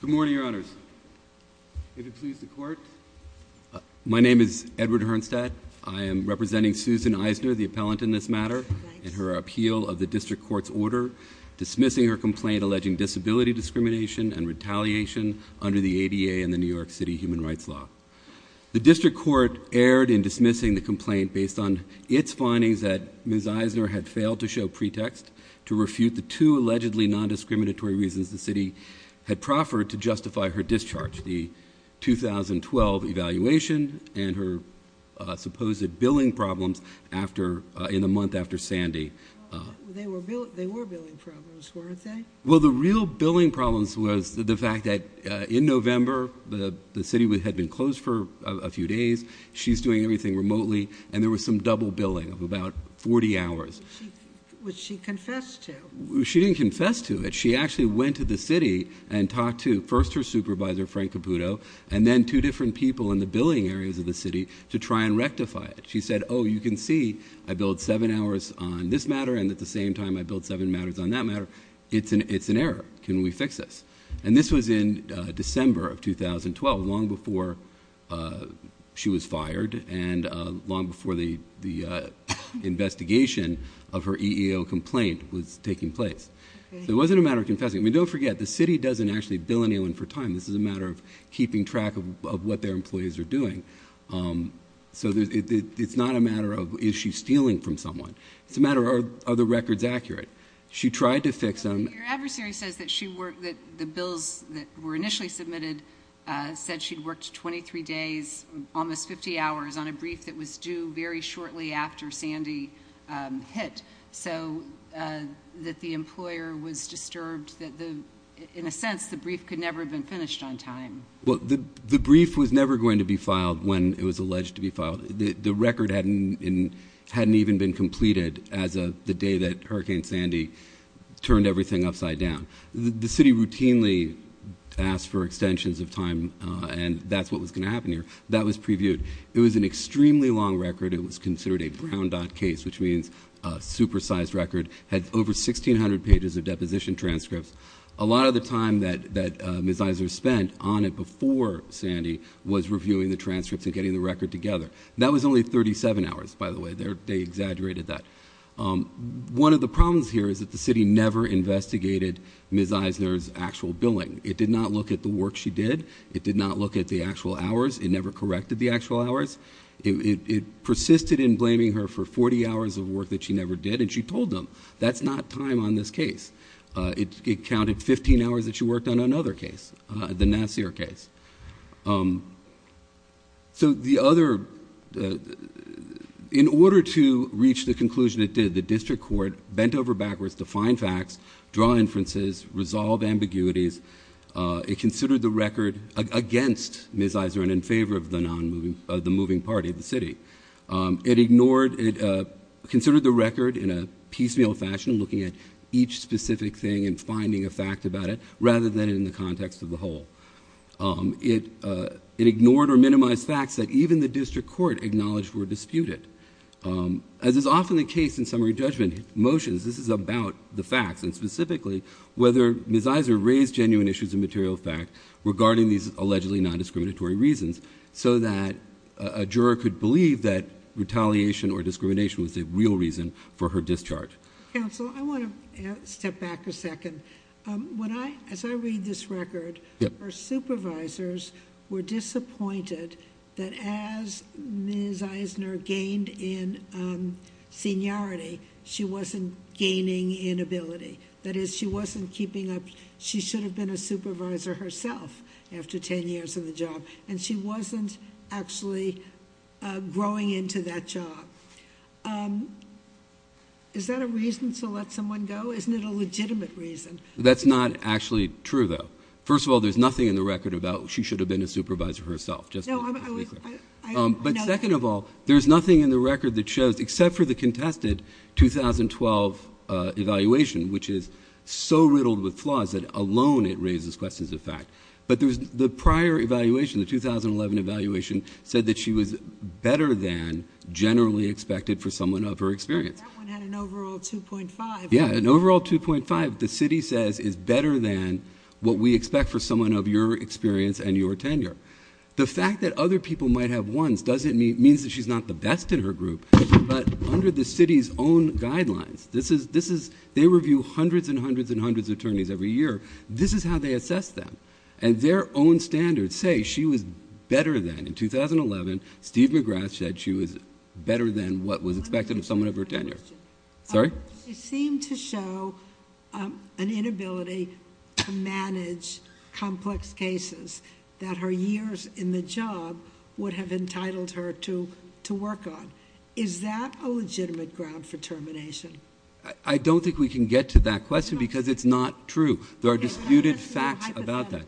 Good morning, Your Honors. May it please the Court. My name is Edward Hernstadt. I am representing Susan Eisner, the appellant in this matter, in her appeal of the District Court's order dismissing her complaint alleging disability discrimination and retaliation under the ADA and the New York City Human Rights Law. The District Court erred in dismissing the complaint based on its findings that Ms. Eisner had failed to show pretext to refute the two allegedly non-discriminatory reasons the city had proffered to justify her discharge, the 2012 evaluation, and her supposed billing problems in the month after Sandy. They were billing problems, weren't they? Well, the real billing problems was the fact that in November the city had been closed for a few days, she's doing everything remotely, and there was some double billing of about 40 hours. Which she confessed to. She didn't confess to it. She actually went to the city and talked to first her supervisor, Frank Caputo, and then two different people in the billing areas of the city to try and rectify it. She said, oh, you can see I billed 7 hours on this matter and at the same time I billed 7 hours on that matter. It's an error. Can we fix this? And this was in December of 2012, long before she was fired and long before the investigation of her EEO complaint was taking place. So it wasn't a matter of confessing. Don't forget, the city doesn't actually bill anyone for time. This is a matter of keeping track of what their employees are doing. So it's not a matter of, is she stealing from someone? It's a matter of, are the records accurate? She tried to fix them. Your adversary says that the bills that were initially submitted said she'd worked 23 days, almost 50 hours, on a brief that was due very shortly after Sandy hit. So that the employer was disturbed that, in a sense, the brief could never have been finished on time. Well, the brief was never going to be filed when it was alleged to be filed. The record hadn't even been completed as of the day that Hurricane Sandy turned everything upside down. The city routinely asked for extensions of time, and that's what was going to happen here. That was previewed. It was an extremely long record. It was considered a brown dot case, which means a supersized record. It had over 1,600 pages of deposition transcripts. A lot of the time that Ms. Eisner spent on it before Sandy was reviewing the transcripts and getting the record together. That was only 37 hours, by the way. They exaggerated that. One of the problems here is that the city never investigated Ms. Eisner's actual billing. It did not look at the work she did. It did not look at the actual hours. It never corrected the actual hours. It persisted in blaming her for 40 hours of work that she never did, and she told them, that's not time on this case. It counted 15 hours that she worked on another case, the Nassir case. In order to reach the conclusion it did, the district court bent over backwards to find facts, draw inferences, resolve ambiguities. It considered the record against Ms. Eisner and in favor of the moving party, the city. It considered the record in a piecemeal fashion, looking at each specific thing and finding a fact about it, rather than in the context of the whole. It ignored or minimized facts that even the district court acknowledged were disputed. As is often the case in summary judgment motions, this is about the facts, and specifically, whether Ms. Eisner raised genuine issues of material fact regarding these allegedly non-discriminatory reasons, so that a juror could believe that retaliation or discrimination was the real reason for her discharge. Counsel, I want to step back a second. As I read this record, her supervisors were disappointed that as Ms. Eisner gained in seniority, she wasn't gaining in ability. That is, she wasn't keeping up... She should have been a supervisor herself after 10 years in the job, and she wasn't actually growing into that job. Is that a reason to let someone go? Isn't it a legitimate reason? That's not actually true, though. First of all, there's nothing in the record about she should have been a supervisor herself, just to be clear. But second of all, there's nothing in the record that shows, except for the contested 2012 evaluation, which is so riddled with flaws, that alone it raises questions of fact. But the prior evaluation, the 2011 evaluation, said that she was better than generally expected for someone of her experience. That one had an overall 2.5. Yeah, an overall 2.5, the city says, is better than what we expect for someone of your experience and your tenure. The fact that other people might have 1s means that she's not the best in her group, but under the city's own guidelines, they review hundreds and hundreds and hundreds of attorneys every year. This is how they assess them, and their own standards say she was better than... In 2011, Steve McGrath said she was better than what was expected of someone of her tenure. Sorry? It seemed to show an inability to manage complex cases that her years in the job would have entitled her to work on. Is that a legitimate ground for termination? I don't think we can get to that question because it's not true. There are disputed facts about that.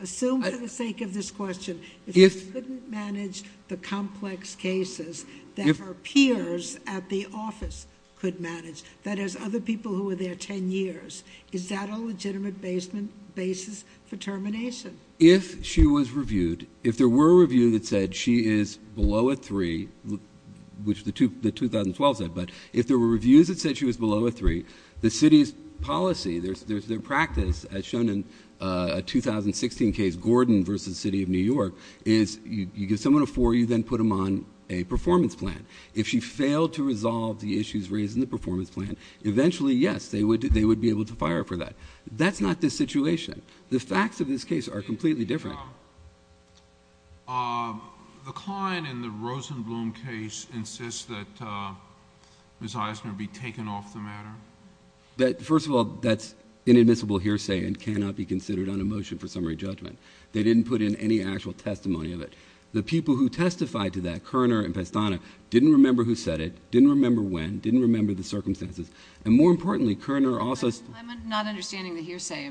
Assume for the sake of this question, if she couldn't manage the complex cases that her peers at the office could manage, that is, other people who were there 10 years, is that a legitimate basis for termination? If she was reviewed, if there were a review that said she is below a 3, which the 2012 said, but if there were reviews that said she was below a 3, the city's policy, their practice, as shown in a 2016 case, Gordon v. City of New York, is you give someone a 4, you then put them on a performance plan. If she failed to resolve the issues raised in the performance plan, eventually, yes, they would be able to fire her for that. That's not the situation. The facts of this case are completely different. The client in the Rosenblum case insists that Ms. Eisner be taken off the matter? First of all, that's inadmissible hearsay and cannot be considered on a motion for summary judgment. They didn't put in any actual testimony of it. The people who testified to that, Kerner and Pestana, didn't remember who said it, didn't remember when, didn't remember the circumstances, and more importantly, Kerner also... I'm not understanding the hearsay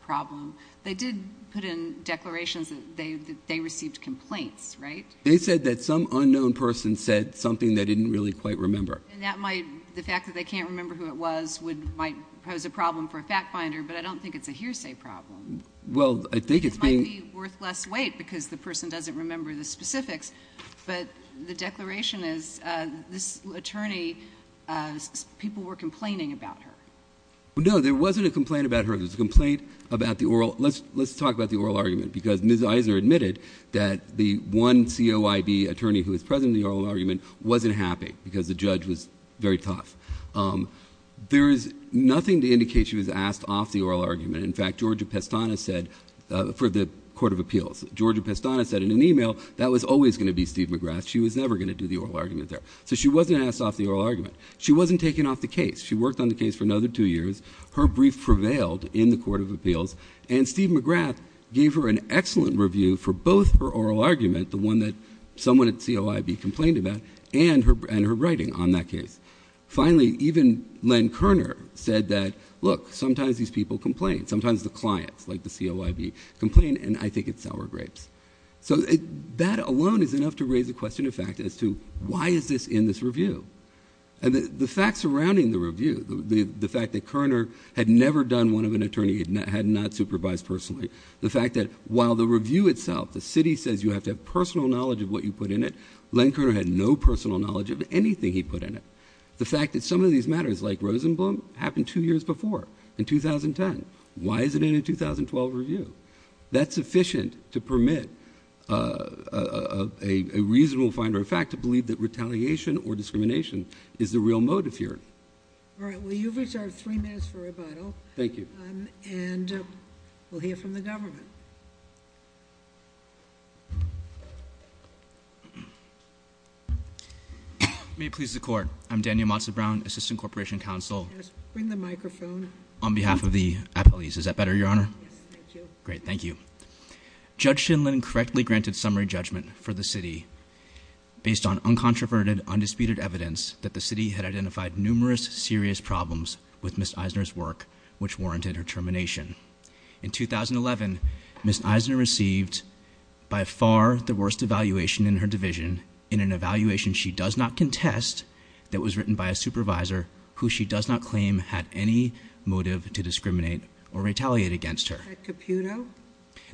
problem. They did put in declarations that they received complaints, right? They said that some unknown person said something they didn't really quite remember. And that might... the fact that they can't remember who it was might pose a problem for a fact-finder, but I don't think it's a hearsay problem. Well, I think it's being... It might be worth less weight because the person doesn't remember the specifics, but the declaration is, this attorney, people were complaining about her. No, there wasn't a complaint about her. There was a complaint about the oral... Let's talk about the oral argument because Ms. Eisner admitted that the one COIB attorney who was present in the oral argument wasn't happy because the judge was very tough. There is nothing to indicate she was asked off the oral argument. In fact, Georgia Pestana said... For the Court of Appeals, Georgia Pestana said in an email that was always going to be Steve McGrath. She was never going to do the oral argument there. So she wasn't asked off the oral argument. She wasn't taken off the case. She worked on the case for another two years. Her brief prevailed in the Court of Appeals, and Steve McGrath gave her an excellent review for both her oral argument, the one that someone at COIB complained about, and her writing on that case. Finally, even Len Kerner said that, look, sometimes these people complain. Sometimes the clients, like the COIB, complain, and I think it's sour grapes. So that alone is enough to raise the question of fact as to why is this in this review? And the fact surrounding the review, the fact that Kerner had never done one of an attorney, had not supervised personally, the fact that while the review itself, the city says you have to have personal knowledge of what you put in it, Len Kerner had no personal knowledge of anything he put in it. The fact that some of these matters, like Rosenblum, happened two years before, in 2010, why is it in a 2012 review? That's sufficient to permit a reasonable finder of fact to believe that retaliation or discrimination is the real motive here. Thank you. All right, well, you've reserved three minutes for rebuttal. Thank you. And we'll hear from the government. May it please the Court, I'm Daniel Mazza-Brown, Assistant Corporation Counsel. Yes, bring the microphone. On behalf of the appellees. Is that better, Your Honor? Yes, thank you. Great, thank you. Judge Shinlin correctly granted summary judgment for the city based on uncontroverted, undisputed evidence that the city had identified numerous serious problems with Ms. Eisner's work, which warranted her termination. In 2011, Ms. Eisner received, by far, the worst evaluation in her division in an evaluation she does not contest that was written by a supervisor who she does not claim had any motive to discriminate or retaliate against her.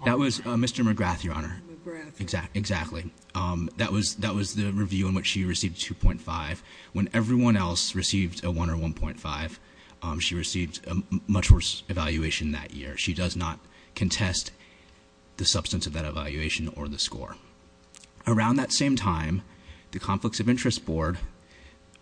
That was Mr. McGrath, Your Honor. McGrath. Exactly. That was the review in which she received 2.5. When everyone else received a 1 or 1.5, she received a much worse evaluation that year. She does not contest the substance of that evaluation or the score. Around that same time, the Conflicts of Interest Board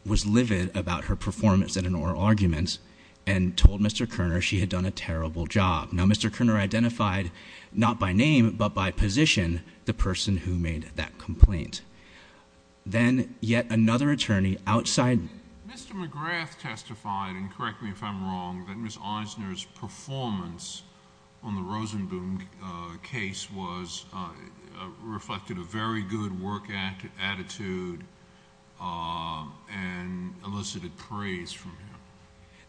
was livid about her performance in an oral argument and told Mr. Kerner she had done a terrible job. Now, Mr. Kerner identified, not by name, but by position, the person who made that complaint. Then, yet another attorney outside... Mr. McGrath testified, and correct me if I'm wrong, that Ms. Eisner's performance on the Rosenboom case reflected a very good work attitude and elicited praise from him.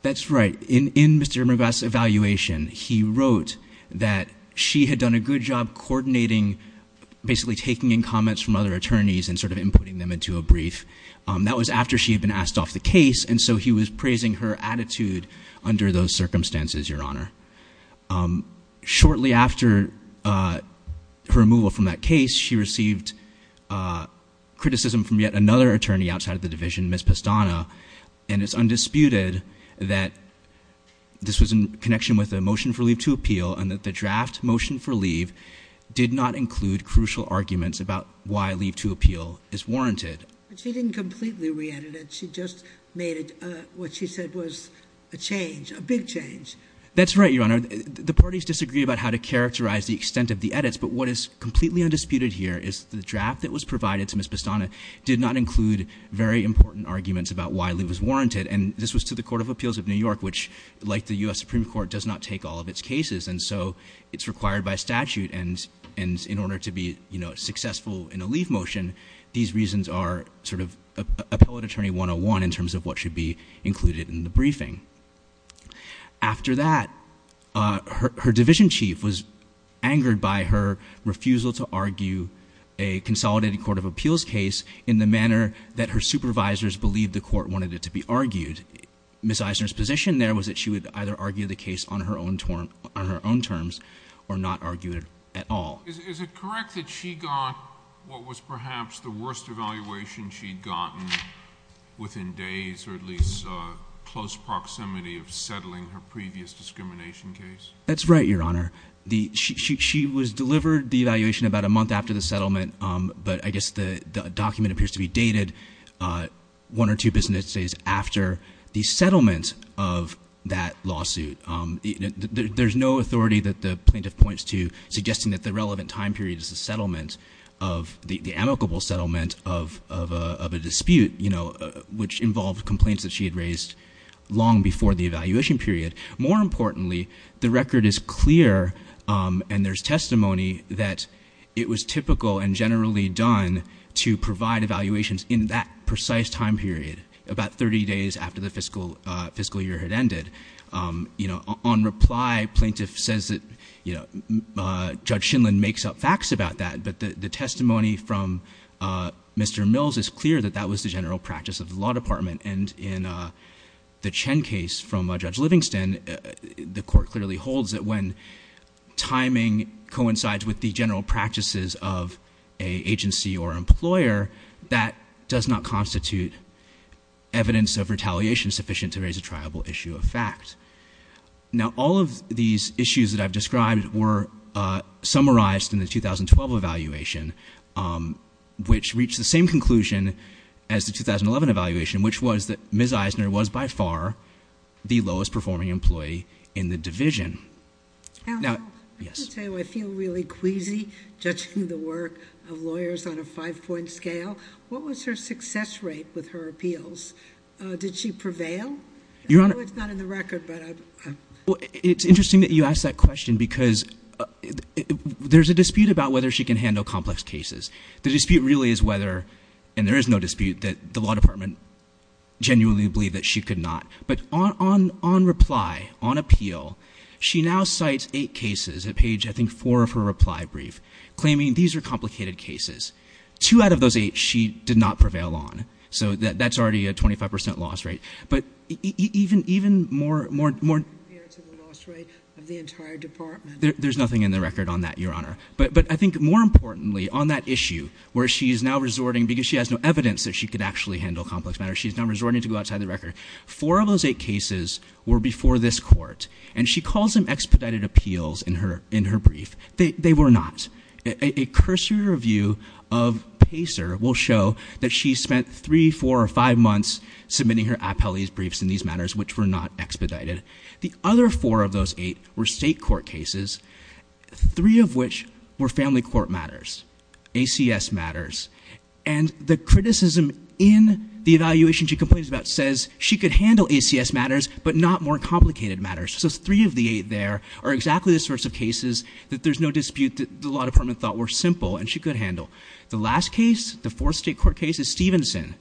That's right. In Mr. McGrath's evaluation, he wrote that she had done a good job coordinating, basically taking in comments from other attorneys and sort of inputting them into a brief. That was after she had been asked off the case, and so he was praising her attitude under those circumstances, Your Honor. Shortly after her removal from that case, she received criticism from yet another attorney outside of the division, Ms. Pastana, and it's undisputed that this was in connection with a motion for leave to appeal and that the draft motion for leave did not include crucial arguments about why leave to appeal is warranted. But she didn't completely re-edit it. She just made what she said was a change, a big change. That's right, Your Honor. The parties disagree about how to characterize the extent of the edits, but what is completely undisputed here is the draft that was provided to Ms. Pastana did not include very important arguments about why leave was warranted, and this was to the Court of Appeals of New York, which, like the U.S. Supreme Court, does not take all of its cases, and so it's required by statute, and in order to be successful in a leave motion, these reasons are sort of appellate attorney 101 in terms of what should be included in the briefing. After that, her division chief was angered by her refusal to argue a consolidated Court of Appeals case in the manner that her supervisors believed the Court wanted it to be argued. Ms. Eisner's position there was that she would either argue the case on her own terms or not argue it at all. Is it correct that she got what was perhaps the worst evaluation she'd gotten within days or at least close proximity of settling her previous discrimination case? That's right, Your Honor. She was delivered the evaluation about a month after the settlement, but I guess the document appears to be dated one or two business days after the settlement of that lawsuit. There's no authority that the plaintiff points to suggesting that the relevant time period is the amicable settlement of a dispute, which involved complaints that she had raised long before the evaluation period. More importantly, the record is clear, and there's testimony that it was typical and generally done to provide evaluations in that precise time period, about 30 days after the fiscal year had ended. On reply, plaintiff says that Judge Shinlin makes up facts about that, but the testimony from Mr. Mills is clear that that was the general practice of the law department, and in the Chen case from Judge Livingston, the Court clearly holds that when timing coincides with the general practices of an agency or employer, that does not constitute evidence of retaliation sufficient to raise a triable issue of fact. Now, all of these issues that I've described were summarized in the 2012 evaluation, which reached the same conclusion as the 2011 evaluation, which was that Ms. Eisner was by far the lowest-performing employee in the division. Now, I feel really queasy judging the work of lawyers on a five-point scale. What was her success rate with her appeals? Did she prevail? I know it's not in the record, but... It's interesting that you ask that question because there's a dispute about whether she can handle complex cases. The dispute really is whether, and there is no dispute, that the law department genuinely believed that she could not. But on reply, on appeal, she now cites eight cases that page, I think, four of her reply brief, claiming these are complicated cases. Two out of those eight, she did not prevail on. So that's already a 25% loss rate. But even more... ...the loss rate of the entire department. There's nothing in the record on that, Your Honour. But I think, more importantly, on that issue, where she is now resorting, because she has no evidence that she could actually handle complex matters, she's now resorting to go outside the record. Four of those eight cases were before this Court, and she calls them expedited appeals in her brief. They were not. A cursory review of Pacer will show that she spent three, four, or five months submitting her appellees' briefs in these matters, which were not expedited. The other four of those eight were state court cases, three of which were family court matters. ACS matters. And the criticism in the evaluation she complains about says she could handle ACS matters, but not more complicated matters. So three of the eight there are exactly the sorts of cases that there's no dispute that the law department thought were simple and she could handle. The last case, the fourth state court case, is Stevenson,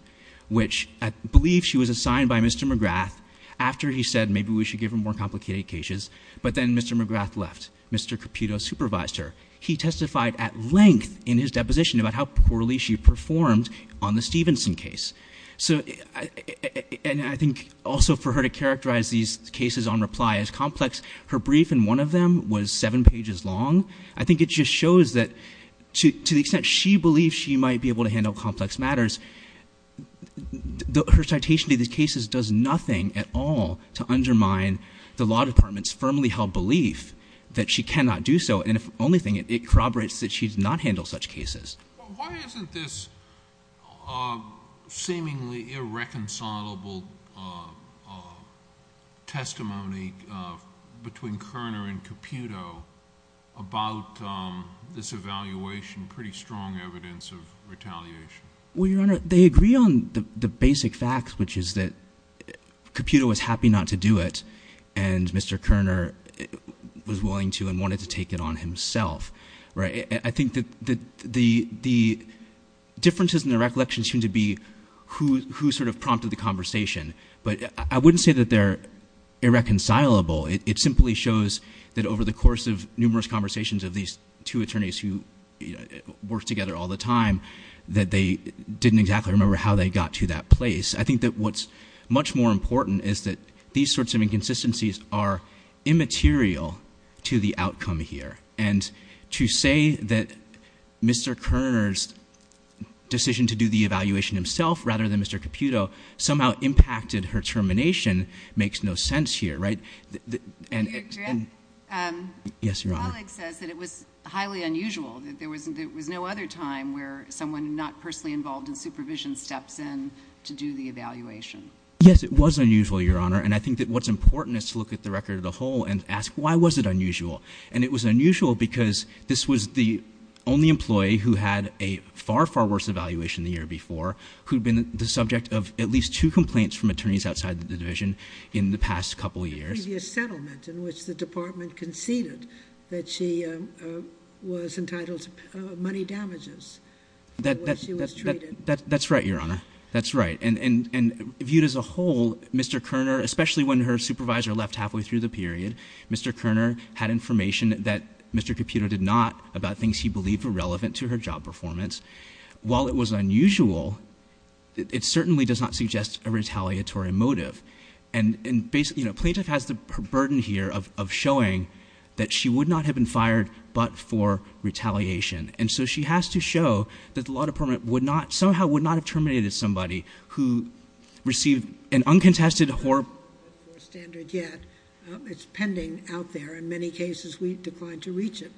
which I believe she was assigned by Mr. McGrath after he said maybe we should give her more complicated cases. But then Mr. McGrath left. Mr. Caputo supervised her. He testified at length in his deposition about how poorly she performed on the Stevenson case. And I think also for her to characterize these cases on reply as complex, her brief in one of them was seven pages long. I think it just shows that to the extent she believes she might be able to handle complex matters, her citation to these cases does nothing at all to undermine the law department's firmly held belief that she cannot do so. And the only thing, it corroborates that she did not handle such cases. Why isn't this seemingly irreconcilable testimony between Kerner and Caputo about this evaluation pretty strong evidence of retaliation? Well, Your Honor, they agree on the basic facts, which is that Caputo was happy not to do it and Mr. Kerner was willing to and wanted to take it on himself. I think that the differences in the recollections seem to be who sort of prompted the conversation. But I wouldn't say that they're irreconcilable. It simply shows that over the course of numerous conversations of these two attorneys who worked together all the time, that they didn't exactly remember how they got to that place. I think that what's much more important is that these sorts of inconsistencies are immaterial to the outcome here. And to say that Mr. Kerner's decision to do the evaluation himself rather than Mr. Caputo somehow impacted her termination makes no sense here, right? Your Honor, my colleague says that it was highly unusual, that there was no other time where someone not personally involved in supervision steps in to do the evaluation. Yes, it was unusual, Your Honor, and I think that what's important is to look at the record as a whole and ask, why was it unusual? And it was unusual because this was the only employee who had a far, far worse evaluation the year before who'd been the subject of at least two complaints from attorneys outside the division in the past couple of years. The previous settlement in which the department conceded that she was entitled to money damages for the way she was treated. That's right, Your Honor, that's right. And viewed as a whole, Mr. Kerner, especially when her supervisor left halfway through the period, Mr. Kerner had information that Mr. Caputo did not about things he believed were relevant to her job performance. While it was unusual, it certainly does not suggest a retaliatory motive. And plaintiff has the burden here of showing that she would not have been fired but for retaliation. And so she has to show that the law department somehow would not have terminated somebody who received an uncontested horrible... It's pending out there. In many cases, we've declined to reach it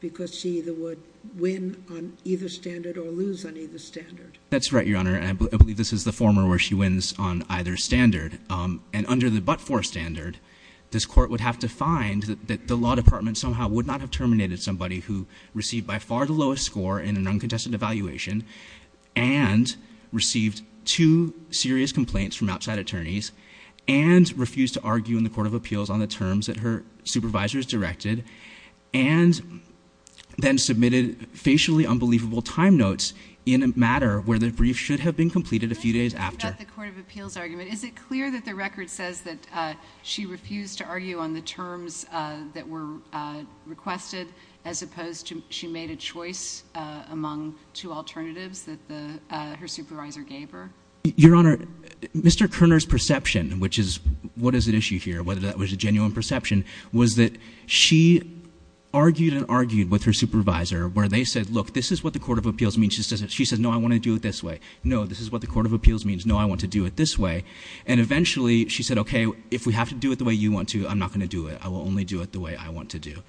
because she either would win on either standard or lose on either standard. That's right, Your Honor. I believe this is the former where she wins on either standard. And under the but-for standard, this court would have to find that the law department somehow would not have terminated somebody who received by far the lowest score in an uncontested evaluation and received two serious complaints from outside attorneys and refused to argue in the court of appeals on the terms that her supervisors directed and then submitted facially unbelievable time notes in a matter where the brief should have been completed a few days after. Can I ask you about the court of appeals argument? Is it clear that the record says that she refused to argue on the terms that were requested as opposed to she made a choice among two alternatives that her supervisor gave her? Your Honor, Mr. Kerner's perception, which is what is at issue here, whether that was a genuine perception, was that she argued and argued with her supervisor where they said, look, this is what the court of appeals means. She says, no, I want to do it this way. No, this is what the court of appeals means. No, I want to do it this way. And eventually she said, okay, if we have to do it the way you want to, I'm not going to do it. I will only do it the way I want to do.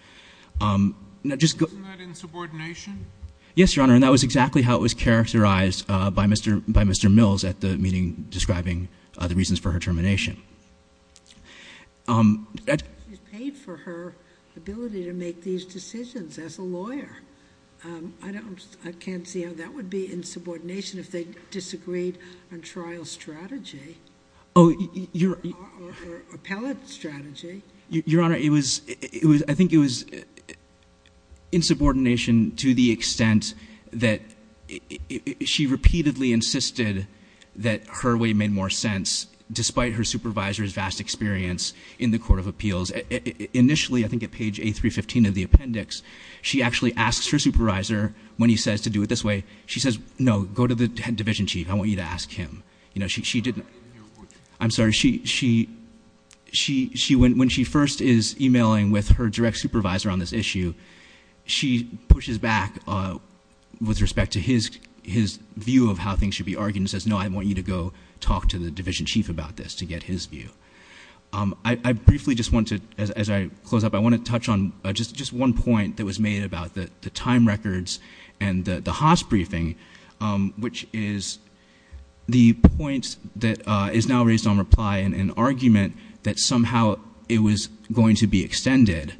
Yes, Your Honor, and that was exactly how it was characterized by Mr. Mills at the meeting describing the reasons for her termination. She paid for her ability to make these decisions as a lawyer. I can't see how that would be insubordination if they disagreed on trial strategy or appellate strategy. Your Honor, I think it was insubordination to the extent that she repeatedly insisted that her way made more sense, despite her supervisor's vast experience in the court of appeals. Initially, I think at page A315 of the appendix, she actually asks her supervisor, when he says to do it this way, she says, no, go to the division chief. I want you to ask him. I'm sorry, when she first is emailing with her direct supervisor on this issue, she pushes back with respect to his view of how things should be argued and says, no, I want you to go talk to the division chief about this to get his view. I briefly just want to, as I close up, I want to touch on just one point that was made about the time records and the Haas briefing, which is the point that is now raised on reply in an argument that somehow it was going to be extended.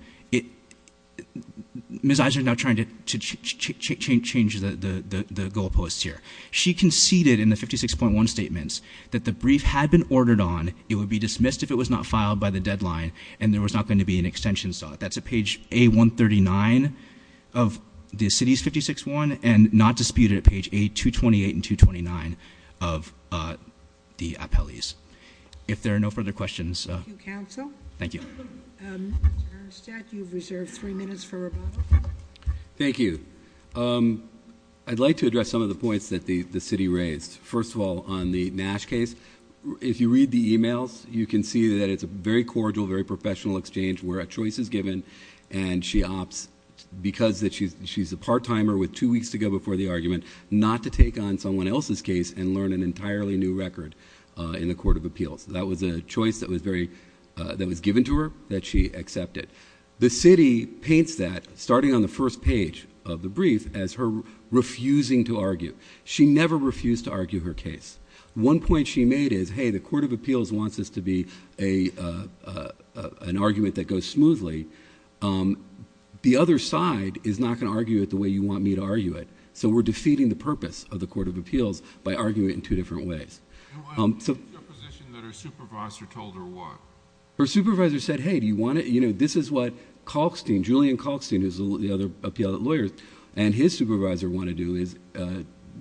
Ms. Eisner is now trying to change the goalposts here. She conceded in the 56.1 statements that the brief had been ordered on, it would be dismissed if it was not filed by the deadline and there was not going to be an extension sought. That's at page A139 of the city's 56.1 and not disputed at page A228 and 229 of the appellees. If there are no further questions. Thank you, counsel. Thank you. Mr. Bernstein, you've reserved three minutes for rebuttal. Thank you. I'd like to address some of the points that the city raised. First of all, on the Nash case, if you read the emails, you can see that it's a very cordial, very professional exchange where a choice is given and she opts because she's a part-timer with two weeks to go before the argument, and learn an entirely new record in the court of appeals. That was a choice that was given to her that she accepted. The city paints that, starting on the first page of the brief, as her refusing to argue. She never refused to argue her case. One point she made is, hey, the court of appeals wants this to be an argument that goes smoothly. The other side is not going to argue it the way you want me to argue it. So we're defeating the purpose of the court of appeals by arguing it in two different ways. Your position that her supervisor told her what? Her supervisor said, hey, do you want to... This is what Kalkstein, Julian Kalkstein, who's the other appellate lawyer, and his supervisor want to do is,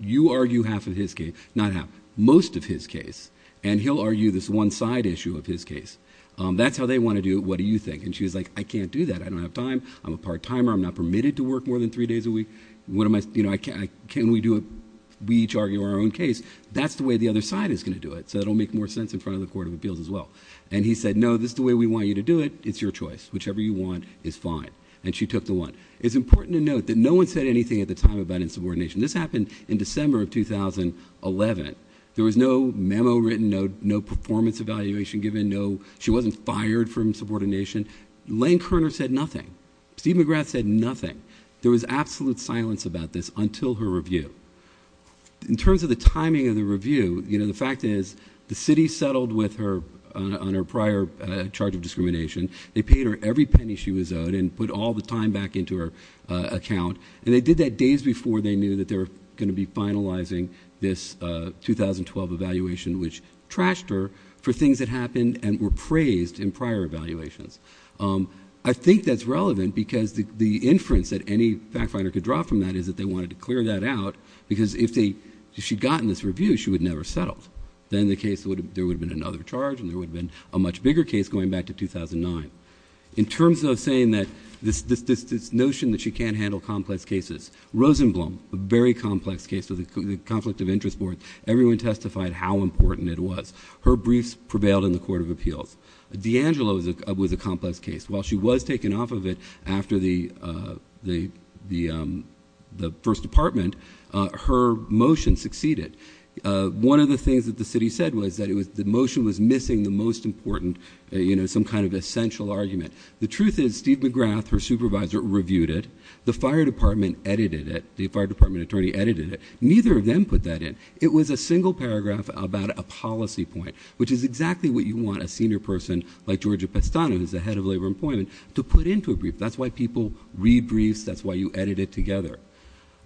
you argue half of his case, not half, most of his case, and he'll argue this one side issue of his case. That's how they want to do it. What do you think? She was like, I can't do that. I don't have time. I'm a part-timer. I'm not permitted to work more than three days a week. Can we do it? We each argue our own case. That's the way the other side is going to do it, so it will make more sense in front of the court of appeals as well. And he said, no, this is the way we want you to do it. It's your choice. Whichever you want is fine. And she took the one. It's important to note that no one said anything at the time about insubordination. This happened in December of 2011. There was no memo written, no performance evaluation given. She wasn't fired from insubordination. Lane Kerner said nothing. Steve McGrath said nothing. There was absolute silence about this until her review. In terms of the timing of the review, you know, the fact is the city settled on her prior charge of discrimination. They paid her every penny she was owed and put all the time back into her account. And they did that days before they knew that they were going to be finalizing this 2012 evaluation, which trashed her for things that happened and were praised in prior evaluations. I think that's relevant because the inference that any fact finder could draw from that is that they wanted to clear that out because if she had gotten this review, she would never have settled. Then there would have been another charge and there would have been a much bigger case going back to 2009. In terms of saying that this notion that she can't handle complex cases, Rosenblum, a very complex case of the conflict of interest board, everyone testified how important it was. Her briefs prevailed in the Court of Appeals. D'Angelo was a complex case. While she was taken off of it after the first department, her motion succeeded. One of the things that the city said was that the motion was missing the most important, you know, some kind of essential argument. The truth is Steve McGrath, her supervisor, reviewed it. The fire department edited it. The fire department attorney edited it. Neither of them put that in. It was a single paragraph about a policy point, which is exactly what you want a senior person like Georgia Pestano, who's the head of labor employment, to put into a brief. That's why people read briefs. That's why you edit it together.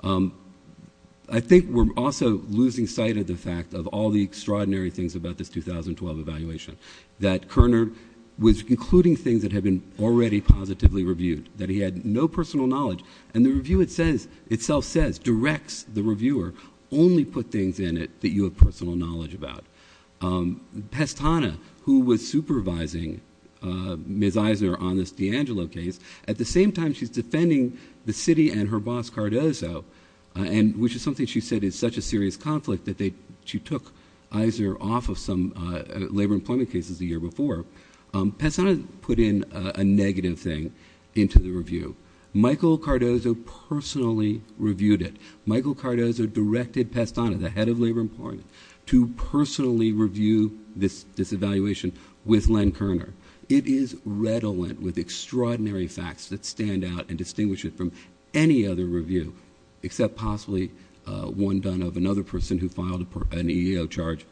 I think we're also losing sight of the fact of all the extraordinary things about this 2012 evaluation, that Kerner was including things that had been already positively reviewed, that he had no personal knowledge. And the review itself says, directs the reviewer, only put things in it that you have personal knowledge about. Pestano, who was supervising Ms. Iser on this D'Angelo case, at the same time she's defending the city and her boss Cardozo, which is something she said is such a serious conflict that she took Iser off of some labor employment cases the year before. Pestano put in a negative thing into the review. Michael Cardozo personally reviewed it. Michael Cardozo directed Pestano, the head of labor employment, to personally review this evaluation with Len Kerner. It is redolent with extraordinary facts that stand out and distinguish it from any other review, except possibly one done of another person who filed an EEO charge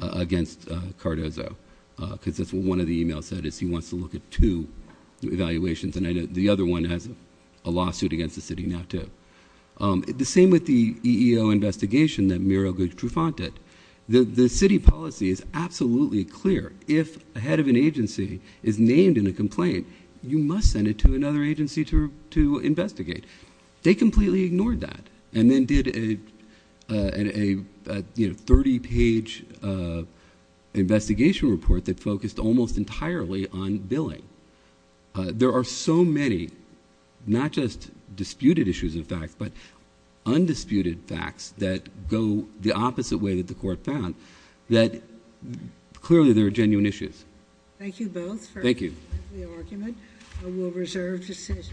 against Cardozo, because that's what one of the emails said, is he wants to look at two evaluations. And I know the other one has a lawsuit against the city now, too. The same with the EEO investigation that Miro Gertrufant did. The city policy is absolutely clear. If a head of an agency is named in a complaint, you must send it to another agency to investigate. They completely ignored that and then did a 30-page investigation report that focused almost entirely on billing. There are so many not just disputed issues of fact, but undisputed facts that go the opposite way that the court found, that clearly there are genuine issues. Thank you both for the argument. Thank you. We'll reserve decisions.